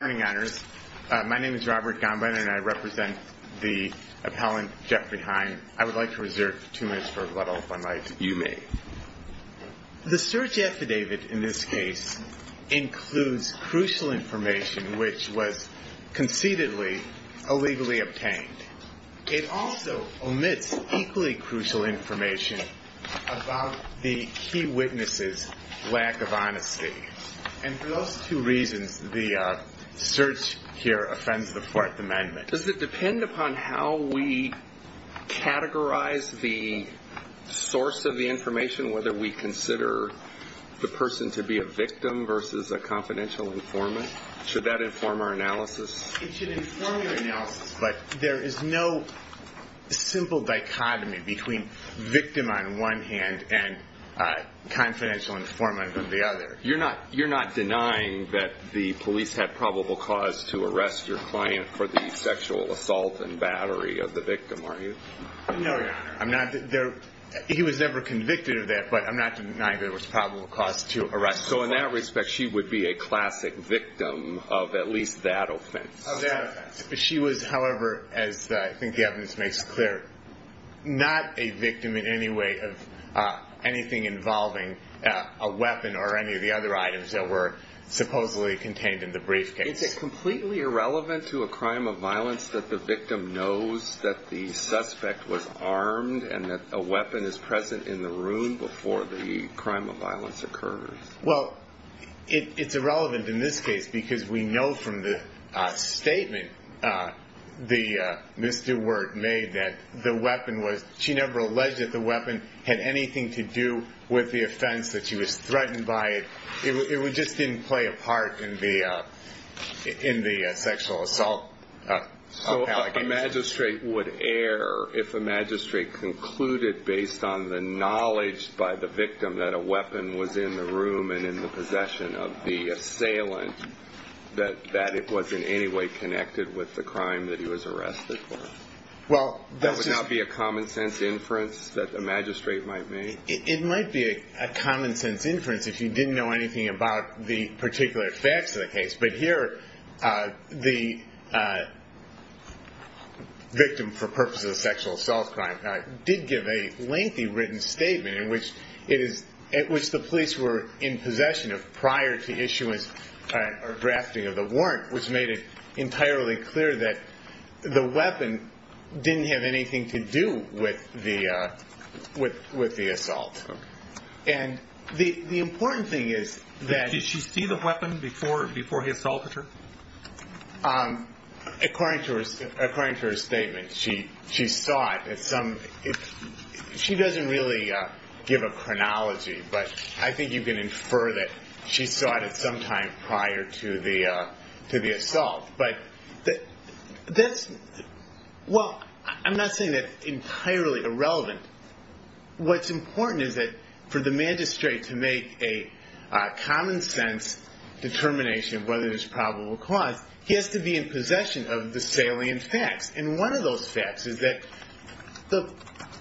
Good morning, honors. My name is Robert Gombinen, and I represent the appellant Jeffrey Hein. I would like to reserve two minutes for a couple of fun nights. You may. The search affidavit in this case includes crucial information which was conceitedly illegally obtained. It also omits equally crucial information about the key witness's lack of honesty. And for those two reasons, the search here offends the Fourth Amendment. Does it depend upon how we categorize the source of the information, whether we consider the person to be a victim versus a confidential informant? Should that inform our analysis? It should inform your analysis, but there is no simple dichotomy between victim on one hand and confidential informant on the other. You're not denying that the police had probable cause to arrest your client for the sexual assault and battery of the victim, are you? No, your honor. He was never convicted of that, but I'm not denying there was probable cause to arrest the victim. So in that respect, she would be a classic victim of at least that offense? Of that offense. She was, however, as I think the evidence makes clear, not a victim in any way of anything involving a weapon or any of the other items that were supposedly contained in the briefcase. Is it completely irrelevant to a crime of violence that the victim knows that the suspect was armed and that a weapon is present in the room before the crime of violence occurred? Well, it's irrelevant in this case because we know from the statement the misdemeanor made that the weapon was, she never alleged that the weapon had anything to do with the offense, that she was threatened by it. It just didn't play a part in the sexual assault. So a magistrate would err if a magistrate concluded based on the knowledge by the victim that a weapon was in the room and in the possession of the assailant, that it was in any way connected with the crime that he was arrested for. That would not be a common sense inference that a magistrate might make? It might be a common sense inference if you didn't know anything about the particular facts of the case, but here the victim for purposes of sexual assault crime did give a lengthy written statement in which it is, at which the police were in possession of prior to issuance or drafting of the warrant, which made it entirely clear that the weapon didn't have anything to do with the assault. And the important thing is that... Did she see the weapon before he assaulted her? According to her statement, she saw it at some... She doesn't really give a chronology, but I think you can infer that she saw it at some time prior to the assault. But that's... Well, I'm not saying that's entirely irrelevant. What's important is that for the magistrate to make a common sense determination of whether there's probable cause, he has to be in possession of the salient facts. And one of those facts is that the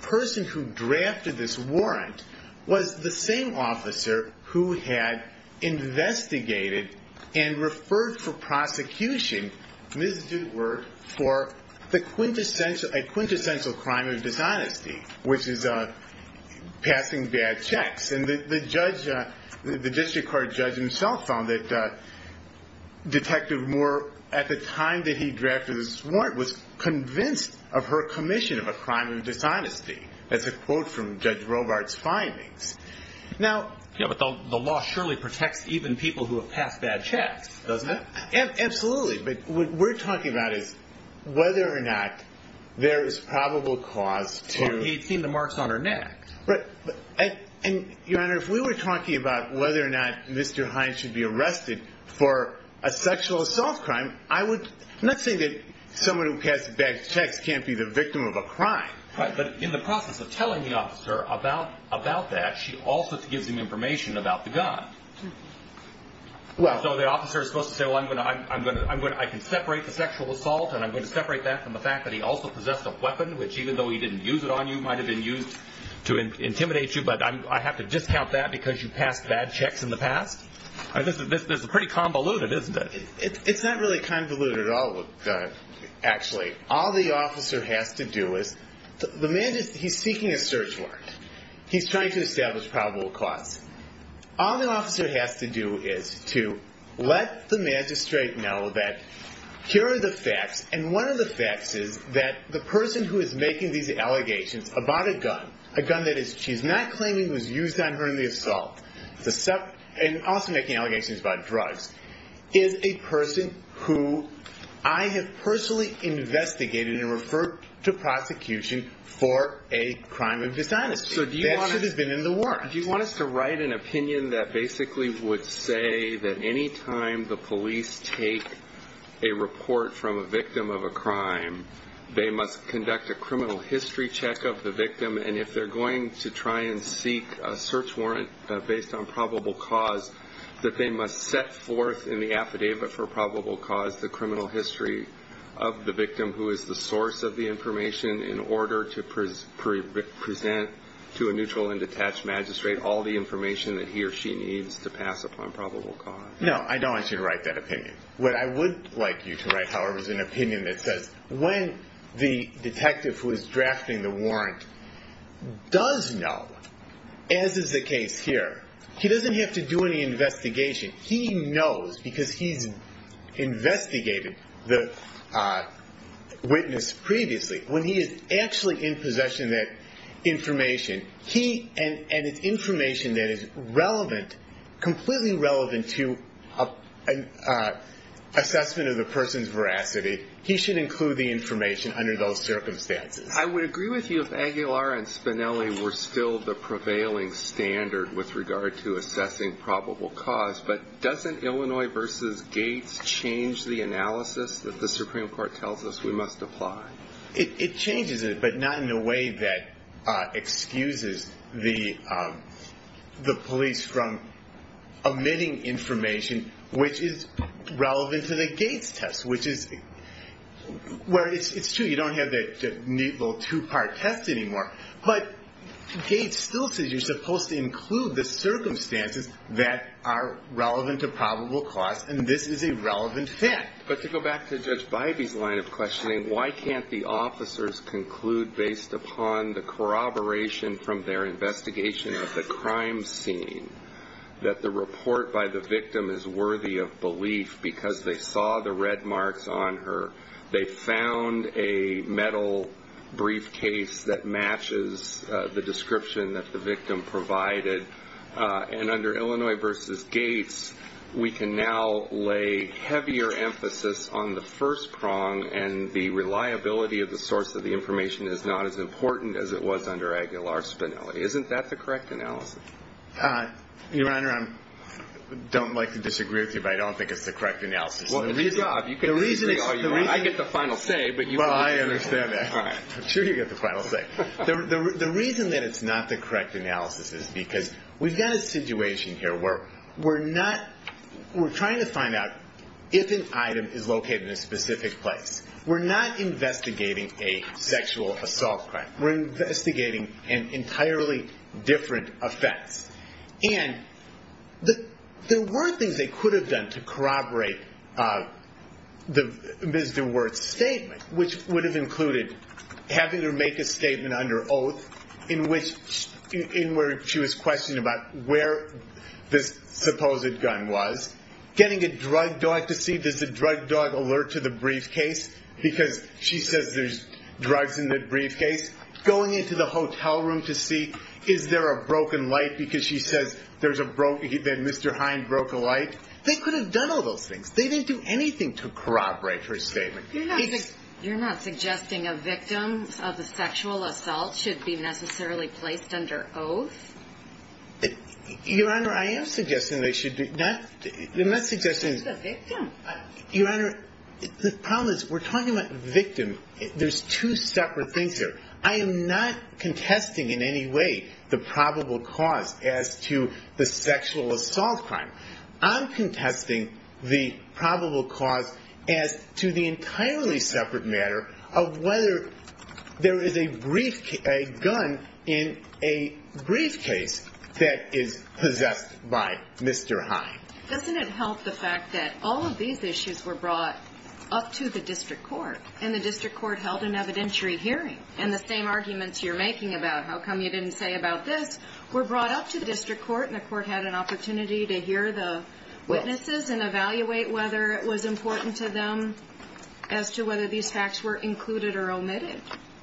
person who drafted this warrant was the same officer who had investigated and referred for prosecution, Ms. Dootworth, for a quintessential crime of dishonesty, which is passing bad checks. And the judge... The district court judge himself found that Detective Moore, at the time that he drafted this warrant, was convinced of her commission of a crime of dishonesty. That's a quote from Judge Robart's findings. Now... Yeah, but the law surely protects even people who have passed bad checks, doesn't it? Absolutely. But what we're talking about is whether or not there is probable cause to... Well, he'd seen the marks on her neck. Your Honor, if we were talking about whether or not Mr. Hines should be arrested for a sexual assault crime, I would... I'm not saying that someone who passed bad checks can't be the victim of a crime. Right, but in the process of telling the officer about that, she also gives him information about the gun. Well, so the officer is supposed to say, well, I can separate the sexual assault and I'm going to separate that from the fact that he also possessed a weapon, which even though he didn't use it on you, might have been used to intimidate you, but I have to discount that because you passed bad checks in the past? This is pretty convoluted, isn't it? It's not really convoluted at all, actually. All the officer has to do is... The magistrate... He's seeking a search warrant. He's trying to establish probable cause. All the officer has to do is to let the magistrate know that here are the facts, and one of the facts is that the person who is making these allegations about a gun, a gun that she's not claiming was used on her in the assault, and also making allegations about drugs, is a person who I have personally investigated and referred to prosecution for a crime of dishonesty. That should have been in the works. Do you want us to write an opinion that basically would say that any time the police take a case, they must conduct a criminal history check of the victim, and if they're going to try and seek a search warrant based on probable cause, that they must set forth in the affidavit for probable cause the criminal history of the victim who is the source of the information in order to present to a neutral and detached magistrate all the information that he or she needs to pass upon probable cause? No, I don't want you to write that opinion. What I would like you to write, however, is an opinion that says when the detective who is drafting the warrant does know, as is the case here, he doesn't have to do any investigation. He knows because he's investigated the witness previously. When he is actually in possession of that information, and it's information that is relevant, completely relevant to an assessment of the person's veracity, he should include the information under those circumstances. I would agree with you if Aguilar and Spinelli were still the prevailing standard with regard to assessing probable cause, but doesn't Illinois v. Gates change the analysis that the Supreme Court tells us we must apply? It changes it, but not in a way that excuses the police from omitting information which is relevant to the Gates test, where it's true you don't have that neat little two-part test anymore, but Gates still says you're supposed to include the circumstances that are relevant to probable cause, and this is a relevant fact. But to go back to Judge Bivey's line of questioning, why can't the officers conclude based upon the corroboration from their investigation of the crime scene that the report by the victim is worthy of belief because they saw the red marks on her, they found a metal briefcase that matches the description that the victim provided, and under Illinois v. Gates, we can now lay heavier emphasis on the first prong and the reliability of the source of the information is not as important as it was under Aguilar-Spinelli. Isn't that the correct analysis? Your Honor, I don't like to disagree with you, but I don't think it's the correct analysis. Well, it's your job. You can disagree all you want. I get the final say, but you can't disagree. Well, I understand that. I'm sure you get the final say. The reason that it's not the case is that we're trying to find out if an item is located in a specific place. We're not investigating a sexual assault crime. We're investigating an entirely different offense. And there were things they could have done to corroborate Ms. DeWert's statement, which would have included having her make a statement under oath in which she was questioned about where this supposed gun was, getting a drug dog to see if there's a drug dog alert to the briefcase because she says there's drugs in the briefcase, going into the hotel room to see is there a broken light because she says there's a broken light, that Mr. Hind broke a light. They could have done all those things. They didn't do anything to corroborate her statement. You're not suggesting a victim of a sexual assault should be necessarily placed under oath? Your Honor, I am suggesting they should be. I'm not suggesting... She's a victim. Your Honor, the problem is we're talking about victim. There's two separate things here. I am not contesting in any way the probable cause as to the sexual assault crime. I'm contesting the probable cause as to the entirely separate matter of whether there is a gun in a briefcase that is possessed by Mr. Hind. Doesn't it help the fact that all of these issues were brought up to the district court and the district court held an evidentiary hearing and the same arguments you're making about how come you didn't say about this were brought up to the district court and the court had an opportunity to hear the witnesses and evaluate whether it was important to them as to whether these facts were included or omitted?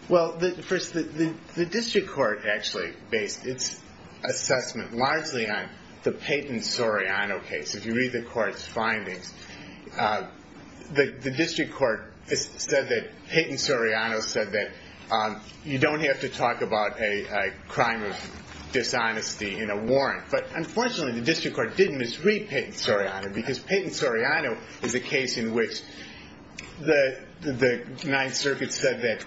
Well, first, the district court actually based its assessment largely on the Payton-Soriano case. If you read the court's findings, the district court said that Payton-Soriano said that you don't have to talk about a crime of dishonesty in a warrant. But unfortunately, the district court didn't misread Payton-Soriano because Payton-Soriano is a case in which the Ninth Circuit said that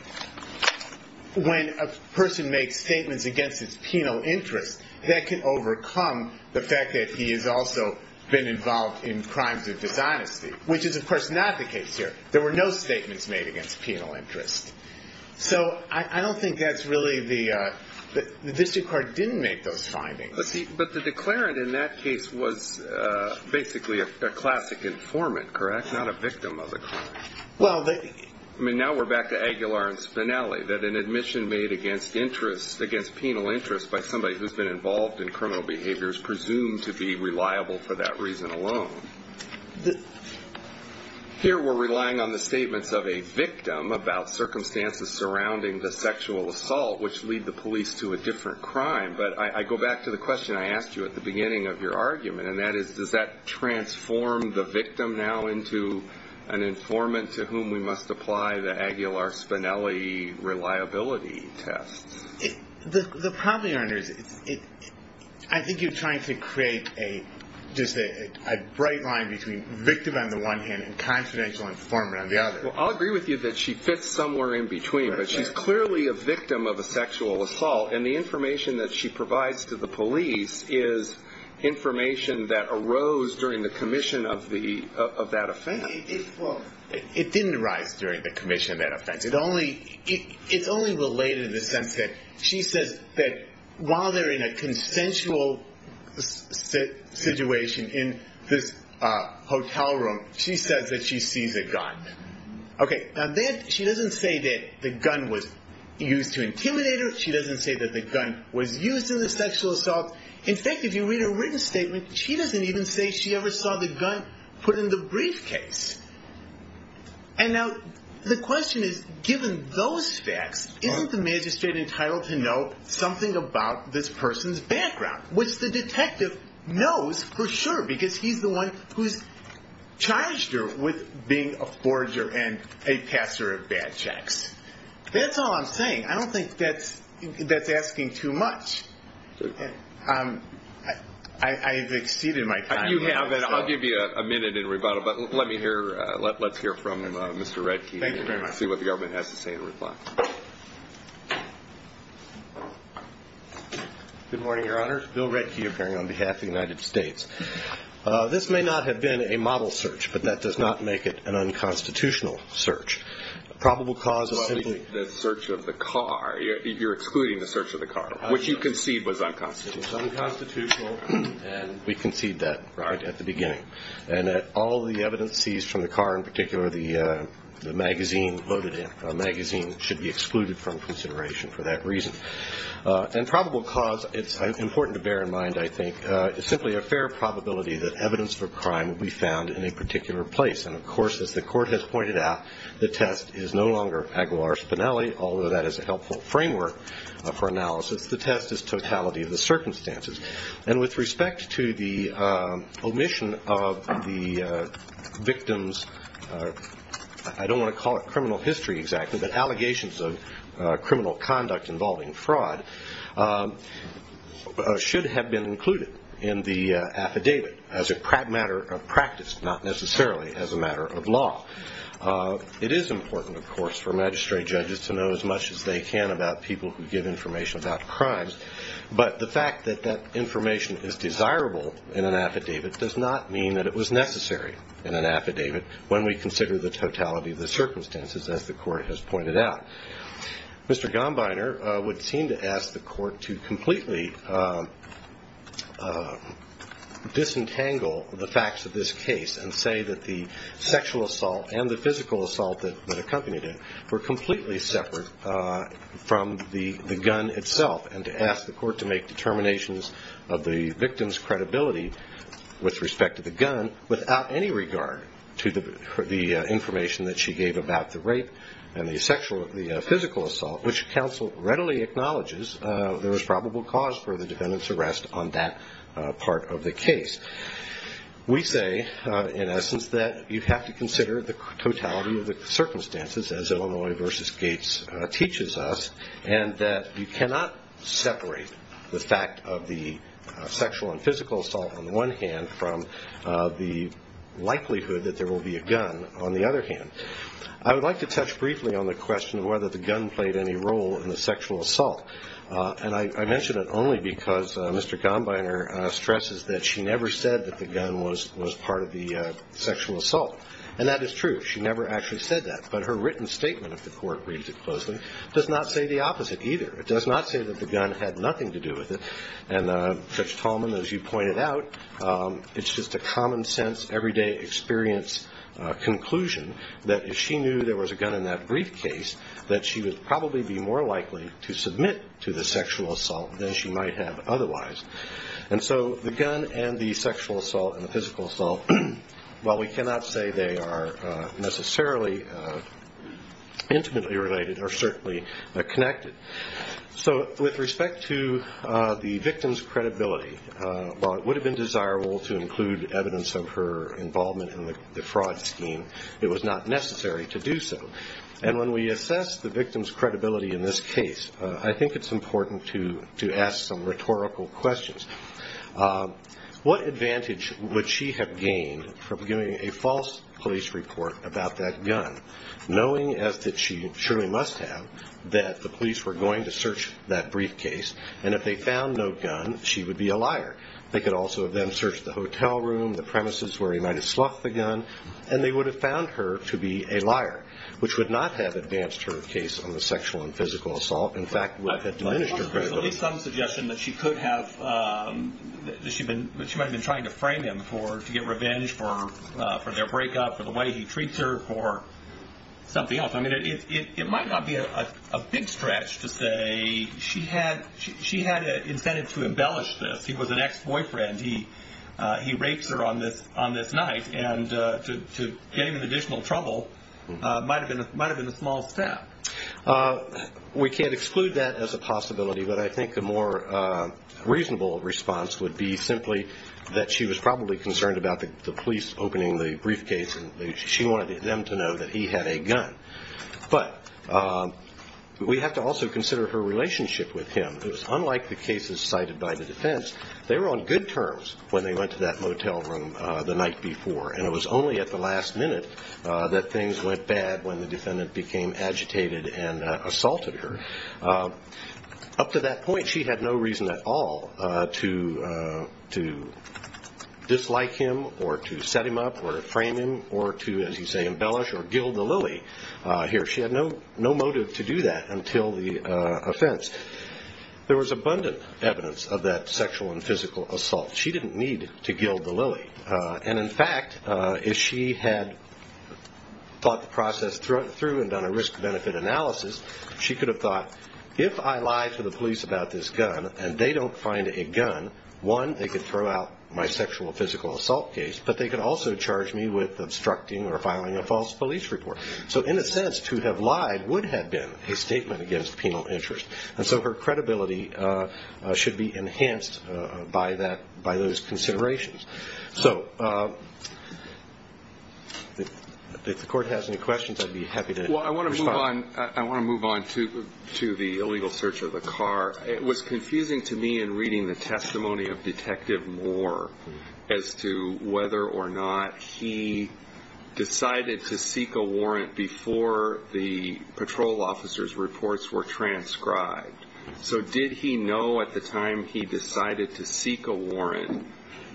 when a person makes statements against his penal interest, that can overcome the fact that he has also been involved in crimes of dishonesty, which is of course not the case here. There were no statements made against penal interest. So I don't think that's really the, the district court didn't make those findings. But the declarant in that case was basically a classic informant, correct? Not a victim of a crime. I mean, now we're back to Aguilar and Spinelli, that an admission made against interest, against penal interest by somebody who's been involved in criminal behavior is presumed to be reliable for that reason alone. Here we're relying on the statements of a victim about circumstances surrounding the sexual assault, which lead the police to a different crime. But I go back to the question I asked you at the beginning of your argument, and that is, does that transform the victim now into an informant to whom we must apply the Aguilar-Spinelli reliability test? The problem here, I think you're trying to create a, just a, a bright line between victim on the one hand and confidential informant on the other. Well, I'll agree with you that she fits somewhere in between, but she's clearly a victim of a sexual assault. Well, it didn't arise during the commission of that offense. It only, it's only related in the sense that she says that while they're in a consensual situation in this hotel room, she says that she sees a gun. Okay, now that, she doesn't say that the gun was used to intimidate her. She doesn't say that the gun was used in the sexual assault. In fact, if you read her written statement, she doesn't even say she ever saw the gun put in the briefcase. And now, the question is, given those facts, isn't the magistrate entitled to know something about this person's background, which the detective knows for sure, because he's the one who's charged her with being a forger and a caster of bad checks. That's all I'm saying. That's asking too much. I've exceeded my time. You have, and I'll give you a minute in rebuttal, but let me hear, let's hear from Mr. Redke. Thank you very much. See what the government has to say in reply. Good morning, Your Honor. Bill Redke, appearing on behalf of the United States. This may not have been a model search, but that does not make it an unconstitutional search. A probable cause is simply- You're excluding the search of the car, which you concede was unconstitutional. It was unconstitutional, and we conceded that right at the beginning. And that all the evidence seized from the car, in particular the magazine loaded in, a magazine should be excluded from consideration for that reason. And probable cause, it's important to bear in mind, I think, is simply a fair probability that evidence for crime would be found in a particular place. And of course, as the court has pointed out, the test is no longer Aguilar-Spinelli, although that is a helpful framework for analysis. The test is totality of the circumstances. And with respect to the omission of the victim's, I don't want to call it criminal history exactly, but allegations of criminal conduct involving fraud, should have been included in the affidavit as a matter of practice, not necessarily as a matter of law. It is important, of course, for magistrate judges to know as much as they can about people who give information about crimes. But the fact that that information is desirable in an affidavit does not mean that it was necessary in an affidavit when we consider the totality of the circumstances, as the court has pointed out. Mr. Gombiner would seem to ask the court to completely disentangle the facts of this case and say that the sexual assault and the physical assault that accompanied it were completely separate from the gun itself, and to ask the court to make determinations of the victim's credibility with respect to the gun without any regard to the information that she gave about the rape and the physical assault, which counsel readily acknowledges there was probable cause for the defendant's arrest on that part of the case. We say, in essence, that you have to consider the totality of the circumstances, as Illinois v. Gates teaches us, and that you cannot separate the fact of the sexual and physical assault on the one hand from the likelihood that there will be a gun on the other hand. I would like to touch briefly on the question of whether the gun played any role in the sexual assault. And I mention it only because Mr. Gombiner stresses that she never said that the gun was part of the sexual assault. And that is true. She never actually said that. But her written statement, if the court reads it closely, does not say the opposite either. It does not say that the gun had nothing to do with it. And, Judge Tallman, as you pointed out, it's just a common-sense, everyday experience conclusion that if she knew there was a gun in that briefcase, that she would probably be more likely to submit to the sexual assault than she might have otherwise. And so the gun and the sexual assault and the physical assault, while we cannot say they are necessarily intimately related, are certainly connected. So with respect to the victim's credibility, while it would have been desirable to include evidence of her involvement in the fraud scheme, it was not necessary to do so. And when we assess the victim's credibility in this case, I think it's important to ask some rhetorical questions. What advantage would she have gained from giving a false police report about that gun, knowing as that she surely must have, that the police were going to search that briefcase, and if they found no gun, she would be a liar. They could also have then searched the hotel room, the premises where he might have sloughed the gun, and they would have found her to be a liar, which would not have advanced her case on the sexual and physical assault. In fact, it would have diminished her credibility. There's at least some suggestion that she could have, that she might have been trying to frame him to get revenge for their breakup, for the way he treats her, for something else. It might not be a big stretch to say she had an incentive to embellish this. He was an ex-boyfriend. He rapes her on this night, and to gain additional trouble might have been a small step. We can't exclude that as a possibility, but I think the more reasonable response would be simply that she was probably concerned about the police opening the briefcase, and she wanted them to know that he had a gun. But we have to also consider her relationship with him. It was unlike the cases cited by the defense. They were on good terms when they went to that motel room the night before, and it was only at the last minute that things went bad when the defendant became agitated and assaulted her. Up to that point, she had no reason at all to dislike him or to set him up or to frame him or to, as you say, embellish or gild the lily here. She had no motive to do that until the offense. There was abundant evidence of that sexual and physical assault. She didn't need to gild the lily. And in fact, if she had thought the process through and done a risk-benefit analysis, she could have thought, if I lie to the police about this gun and they don't find a gun, one, they could throw out my sexual and physical assault case, but they could also charge me with obstructing or filing a false police report. So in a sense, to have lied would have been a statement against penal interest. And so her credibility should be enhanced by those considerations. So if the court has any questions, I'd be happy to respond. Well, I want to move on to the illegal search of the car. It was confusing to me in reading the testimony of Detective Moore as to whether or not he decided to seek a warrant before the patrol officer's reports were transcribed. So did he know at the time he decided to seek a warrant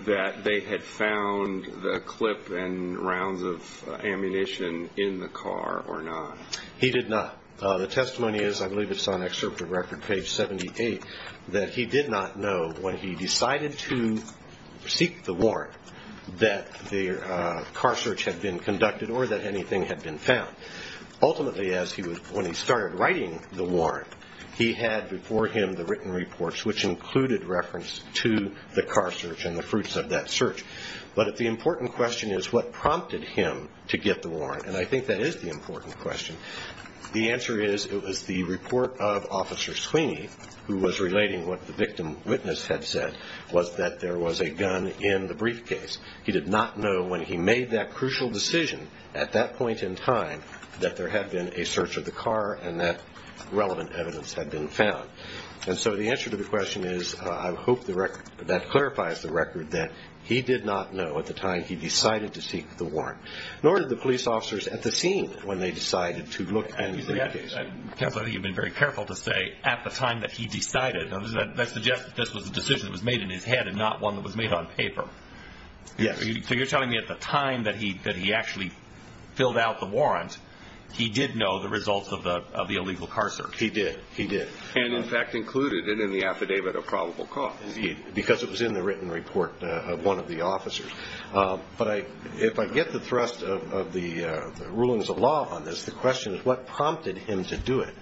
that they had found the clip and rounds of ammunition in the car or not? He did not. The testimony is, I believe it's on Excerpt of Record, page 78, that he did not know when he decided to seek the warrant that the car search had been conducted or that anything had been found. Ultimately, when he started writing the warrant, he had before him the written reports, which included reference to the car search and the fruits of that search. But if the important question is what prompted him to get the warrant, and I think that is the important question, the answer is it was the report of Officer Sweeney, who was relating what the victim witness had said, was that there was a gun in the briefcase. He did not know when he made that crucial decision at that point in time that there had been a search of the car and that relevant evidence had been found. And so the answer to the question is, I hope that clarifies the record, that he did not know at the time he decided to seek the warrant, nor did the police officers at the scene when they decided to look in the briefcase. Counsel, I think you've been very careful to say, at the time that he decided. That suggests that this was a decision that was made in his head and not one that was made on paper. Yes. So you're telling me at the time that he actually filled out the warrant, he did know the results of the illegal car search? He did. He did. And, in fact, included it in the affidavit of probable cause. Indeed. Because it was in the written report of one of the officers. But if I get the thrust of the rulings of law on this, the question is what prompted him to do it?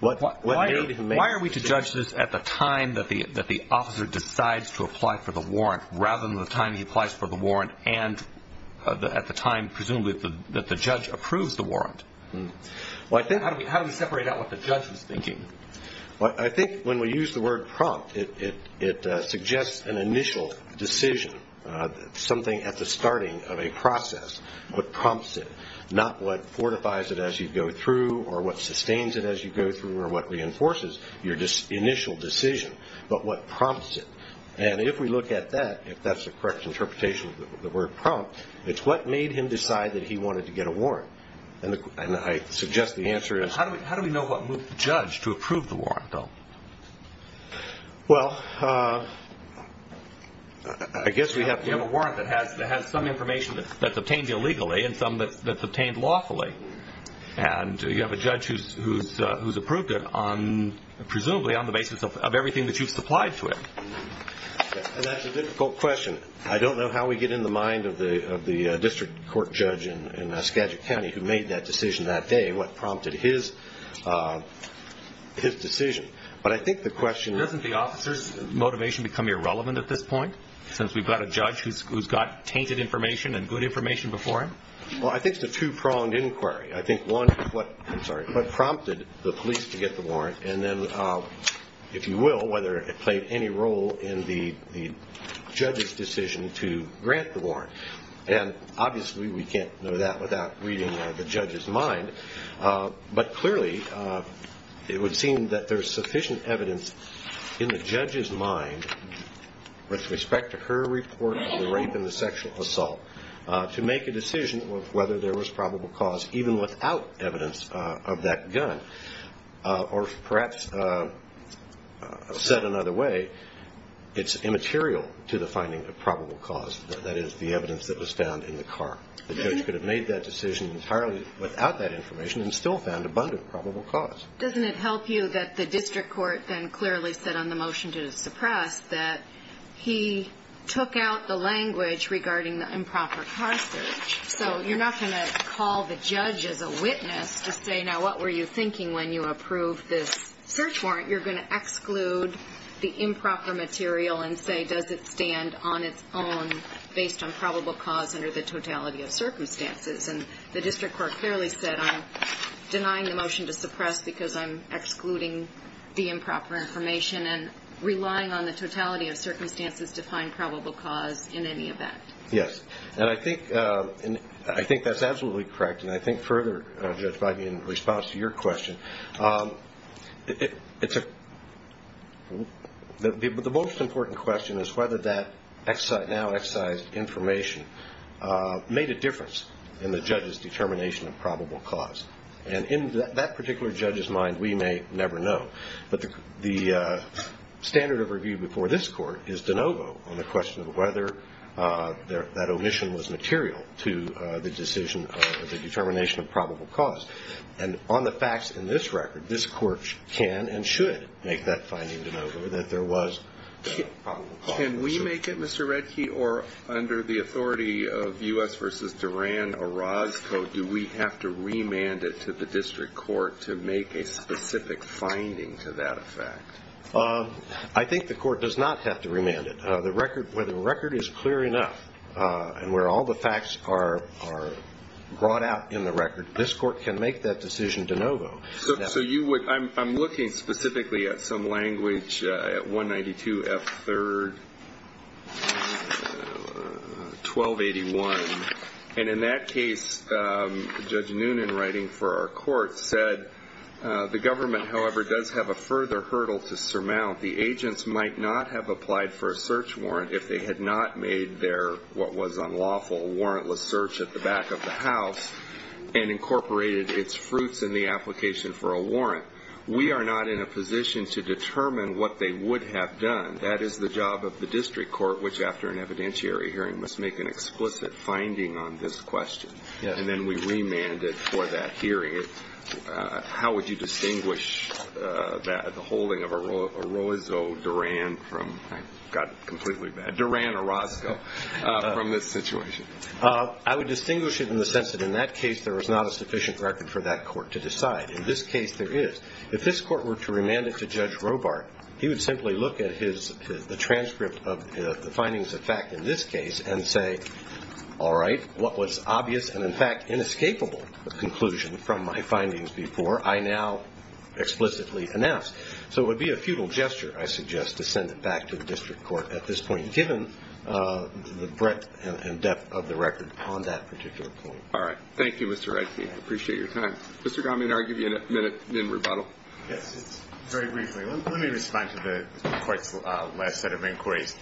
What made him make the decision? It was at the time that the officer decides to apply for the warrant, rather than the time he applies for the warrant and at the time, presumably, that the judge approves the warrant. How do we separate out what the judge is thinking? I think when we use the word prompt, it suggests an initial decision, something at the starting of a process, what prompts it, not what fortifies it as you go through or what sustains it as you go through or what reinforces your initial decision, but what prompts it. And if we look at that, if that's the correct interpretation of the word prompt, it's what made him decide that he wanted to get a warrant. And I suggest the answer is... How do we know what moved the judge to approve the warrant, though? Well, I guess we have... You have a warrant that has some information that's obtained illegally and some that's who's approved it on, presumably, on the basis of everything that you've supplied to it. And that's a difficult question. I don't know how we get in the mind of the district court judge in Saskatchewan County who made that decision that day, what prompted his decision. But I think the question... Doesn't the officer's motivation become irrelevant at this point, since we've got a judge who's got tainted information and good information before him? Well, I think it's a two-pronged inquiry. I think one, what prompted the police to get the warrant, and then, if you will, whether it played any role in the judge's decision to grant the warrant. And obviously, we can't know that without reading the judge's mind. But clearly, it would seem that there's sufficient evidence in the judge's mind, with respect to her report of the rape and the sexual assault, to make a decision of whether there was probable cause, even without evidence of that gun. Or perhaps, said another way, it's immaterial to the finding of probable cause. That is, the evidence that was found in the car. The judge could have made that decision entirely without that information and still found abundant probable cause. Doesn't it help you that the district court then clearly said on the motion to suppress that he took out the language regarding the improper car search? So you're not going to call the judge as a witness to say, now, what were you thinking when you approved this search warrant? You're going to exclude the improper material and say, does it stand on its own based on probable cause under the totality of circumstances? And the district court clearly said, I'm denying the motion to suppress because I'm excluding the improper information and relying on the totality of circumstances to find probable cause in any event. Yes. And I think that's absolutely correct. And I think further, Judge Biden, in response to your question, the most important question is whether that now excised information made a difference in the judge's determination of probable cause. And in that particular case, in the judge's mind, we may never know. But the standard of review before this court is de novo on the question of whether that omission was material to the decision of the determination of probable cause. And on the facts in this record, this court can and should make that finding de novo that there was probable cause. Can we make it, Mr. Redke, or under the authority of U.S. v. Duran, Orozco, do we have to remand it to the district court to make a specific finding to that effect? I think the court does not have to remand it. The record, where the record is clear enough and where all the facts are brought out in the record, this court can make that decision de novo. So you would, I'm looking specifically at some language, at 192 F. 3rd, 1281. And in that case, Judge Noonan, writing for our court, said, the government, however, does have a further hurdle to surmount. The agents might not have applied for a search warrant if they had not made their, what was unlawful, warrantless search at the back of the house and incorporated its fruits in the application for a warrant. We are not in a position to determine what they would have done. That is the job of the district court, which, after an evidentiary hearing, must make an explicit finding on this question. And then we remand it for that hearing. How would you distinguish the holding of Orozco, Duran, from this situation? I would distinguish it in the sense that in that case, there was not a sufficient record for that court to decide. In this case, there is. If this court were to remand it to Judge Robart, he would simply look at the transcript of the findings of fact in this case and say, all right, what was obvious and, in fact, inescapable conclusion from my findings before, I now explicitly announce. So it would be a futile gesture, I suggest, to send it back to the district court at this point, given the breadth and depth of the record on that particular point. All right. Thank you, Mr. Redfield. I appreciate your time. Mr. Gromit, I'll give you a minute in rebuttal. Yes, very briefly. Let me respond to the court's last set of inquiries.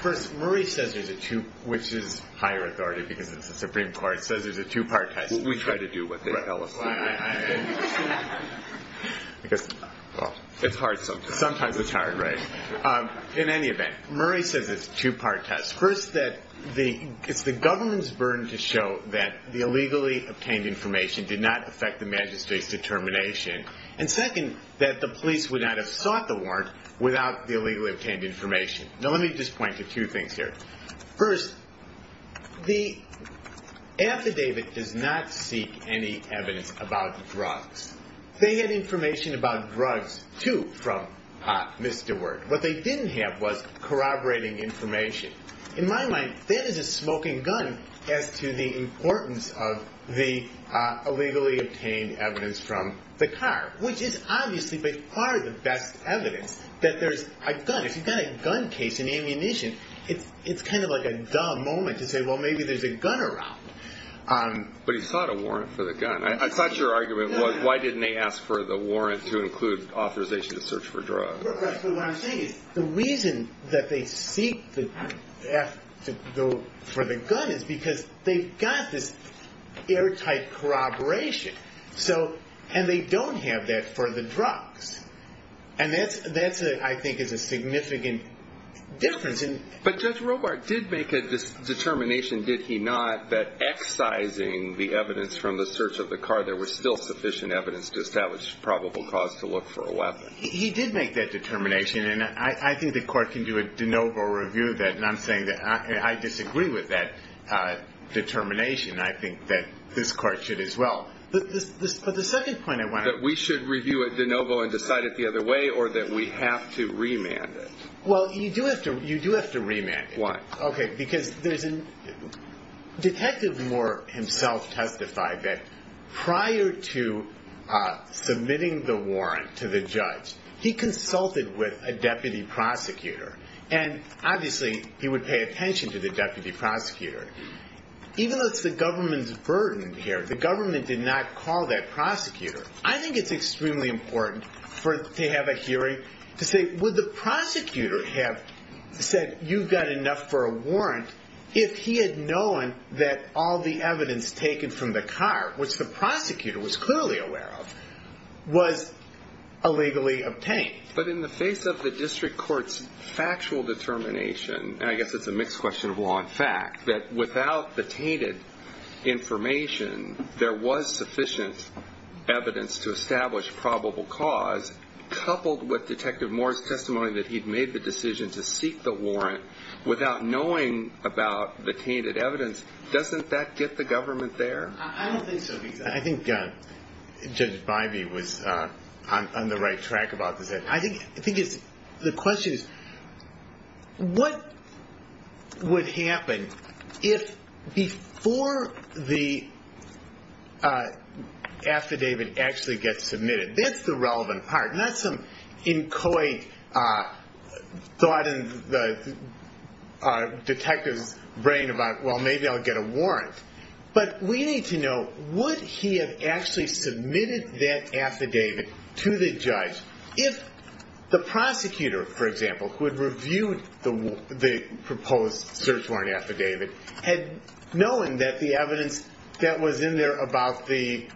First, Murray says there's a two-part test, which is higher authority because it's the Supreme Court. It says there's a two-part test. We try to do what they tell us to do. It's hard sometimes. Sometimes it's hard, right. In any event, Murray says it's a two-part test. First, that it's the government's burden to show that the illegally obtained information did not affect the magistrate's determination. And second, that the police would not have sought the warrant without the illegally obtained information. Now, let me just point to two things here. First, the affidavit does not seek any evidence about drugs. They had information about drugs, too, from Pott, Mr. Ward. What they didn't have was corroborating information. In my mind, that is a smoking gun as to the importance of the illegally obtained evidence from the car, which is obviously by far the best evidence that there's a gun. If you've got a gun case in ammunition, it's kind of like a dumb moment to say, well, maybe there's a gun around. But he sought a warrant for the gun. I thought your argument was, why didn't they ask for the warrant to include authorization to search for drugs? Well, what I'm saying is, the reason that they seek to go for the gun is because they've got this airtight corroboration. And they don't have that for the drugs. And that's, I think, is a significant difference. But Judge Robart did make a determination, did he not, that excising the evidence from the search of the car, there was still sufficient evidence to establish probable cause to look for a weapon? He did make that determination. And I think the court can do a de novo review of that. And I'm saying that I disagree with that determination. I think that this court should as well. But the second point I want to make is that we should review it de novo and decide it the other way, or that we have to remand it? Well, you do have to remand it. Why? OK, because there's a, Detective Moore himself testified that prior to submitting the warrant to the judge, he consulted with a deputy prosecutor. And obviously, he would pay attention to the deputy prosecutor. Even if it's the government's burden here, the government did not call that prosecutor. I think it's extremely important to have a hearing to say, would the prosecutor have said, you've got enough for a warrant, if he had known that all the evidence taken from the cart, which the prosecutor was clearly aware of, was illegally obtained? But in the face of the district court's factual determination, and I guess it's a mixed question of law and fact, that without the tainted information, there was sufficient evidence to establish probable cause, coupled with Detective Moore's testimony that he'd made the decision to seek the warrant, without knowing about the tainted evidence, doesn't that get the government there? I don't think so. I think Judge Bybee was on the right track about this. I think the question is, what would happen if, before the affidavit actually gets submitted, that's the relevant part, not some inchoate thought in the detective's brain about, well, maybe I'll get a warrant. But we need to know, would he have actually submitted that affidavit to the judge, if the prosecutor, for example, who had reviewed the proposed search warrant affidavit, had known that the evidence that was in there about the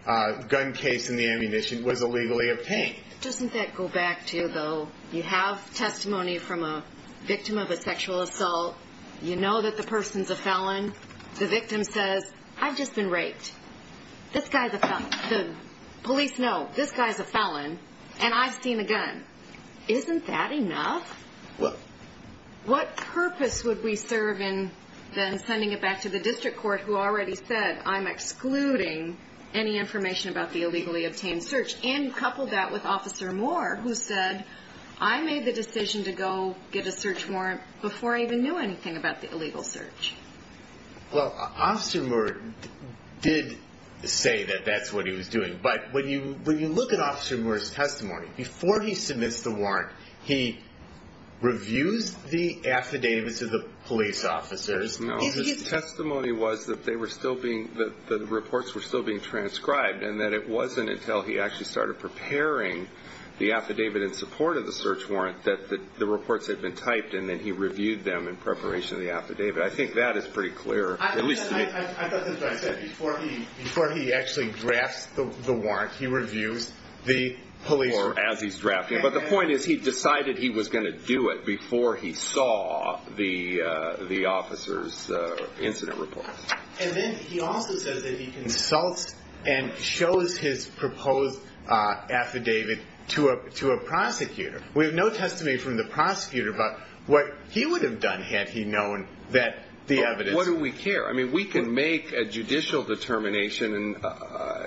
gun case and the ammunition was illegally obtained? Doesn't that go back to, though, you have testimony from a victim of a sexual assault, you know that the person's a felon. The victim says, I've just been raped. This guy's a felon. The police know, this guy's a felon, and I've seen a gun. Isn't that enough? What purpose would we serve in then sending it back to the district court, who already said, I'm excluding any information about the illegally obtained search, and couple that with Officer Moore, who said, I made the decision to go get a search warrant before I even knew anything about the illegal search? Well, Officer Moore did say that that's what he was doing. But when you look at Officer Moore's testimony, before he submits the warrant, he reviews the affidavits of the police officers. No, his testimony was that they were still being, that the reports were still being transcribed, and that it wasn't until he actually started preparing the affidavit in support of the them in preparation of the affidavit. I think that is pretty clear. I thought that's what I said. Before he actually drafts the warrant, he reviews the police officers. As he's drafting it. But the point is, he decided he was going to do it before he saw the officer's incident report. And then he also says that he consults and shows his proposed affidavit to a prosecutor. We have no testimony from the prosecutor, but what he would have done had he known that the evidence... But what do we care? I mean, we can make a judicial determination,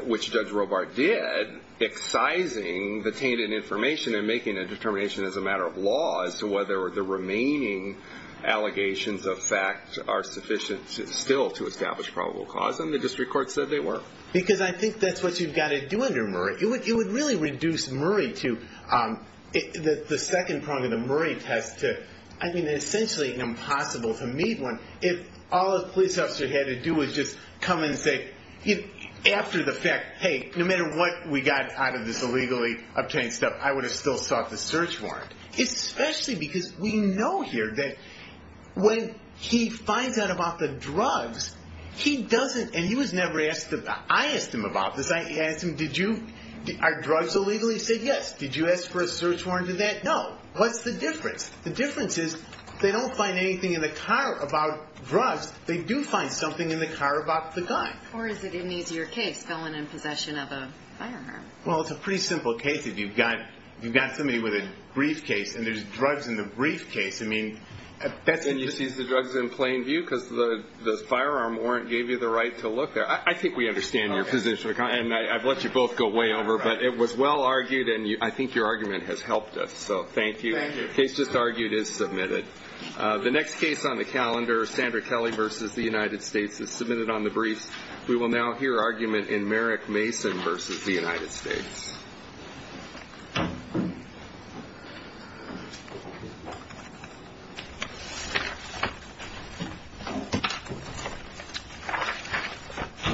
which Judge Robart did, excising the tainted information and making a determination as a matter of law as to whether the remaining allegations of fact are sufficient still to establish probable cause. And the district court said they were. Because I think that's what you've got to do under Murray. You would really reduce Murray to the second prong of the Murray test to, I mean, essentially impossible to meet one if all a police officer had to do was just come and say, after the fact, hey, no matter what we got out of this illegally obtained stuff, I would have still sought the search warrant. Especially because we know here that when he finds out about the drugs, he doesn't... And he was never asked about... I asked him about this. I asked him, did you... Are drugs illegal? He said, yes. Did you ask for a search warrant for that? No. What's the difference? The difference is they don't find anything in the car about drugs. They do find something in the car about the gun. Or is it an easier case, going in possession of a firearm? Well, it's a pretty simple case if you've got somebody with a briefcase and there's drugs in the briefcase. I mean, that's... And you seized the drugs in plain view because the firearm warrant gave you the right to look there. I think we understand your position. And I've let you both go way over, but it was well argued and I think your argument has helped us. So, thank you. Thank you. The case just argued is submitted. The next case on the calendar, Sandra Kelly v. The United States, is submitted on the briefs. We will now hear argument in Merrick Mason v. The United States.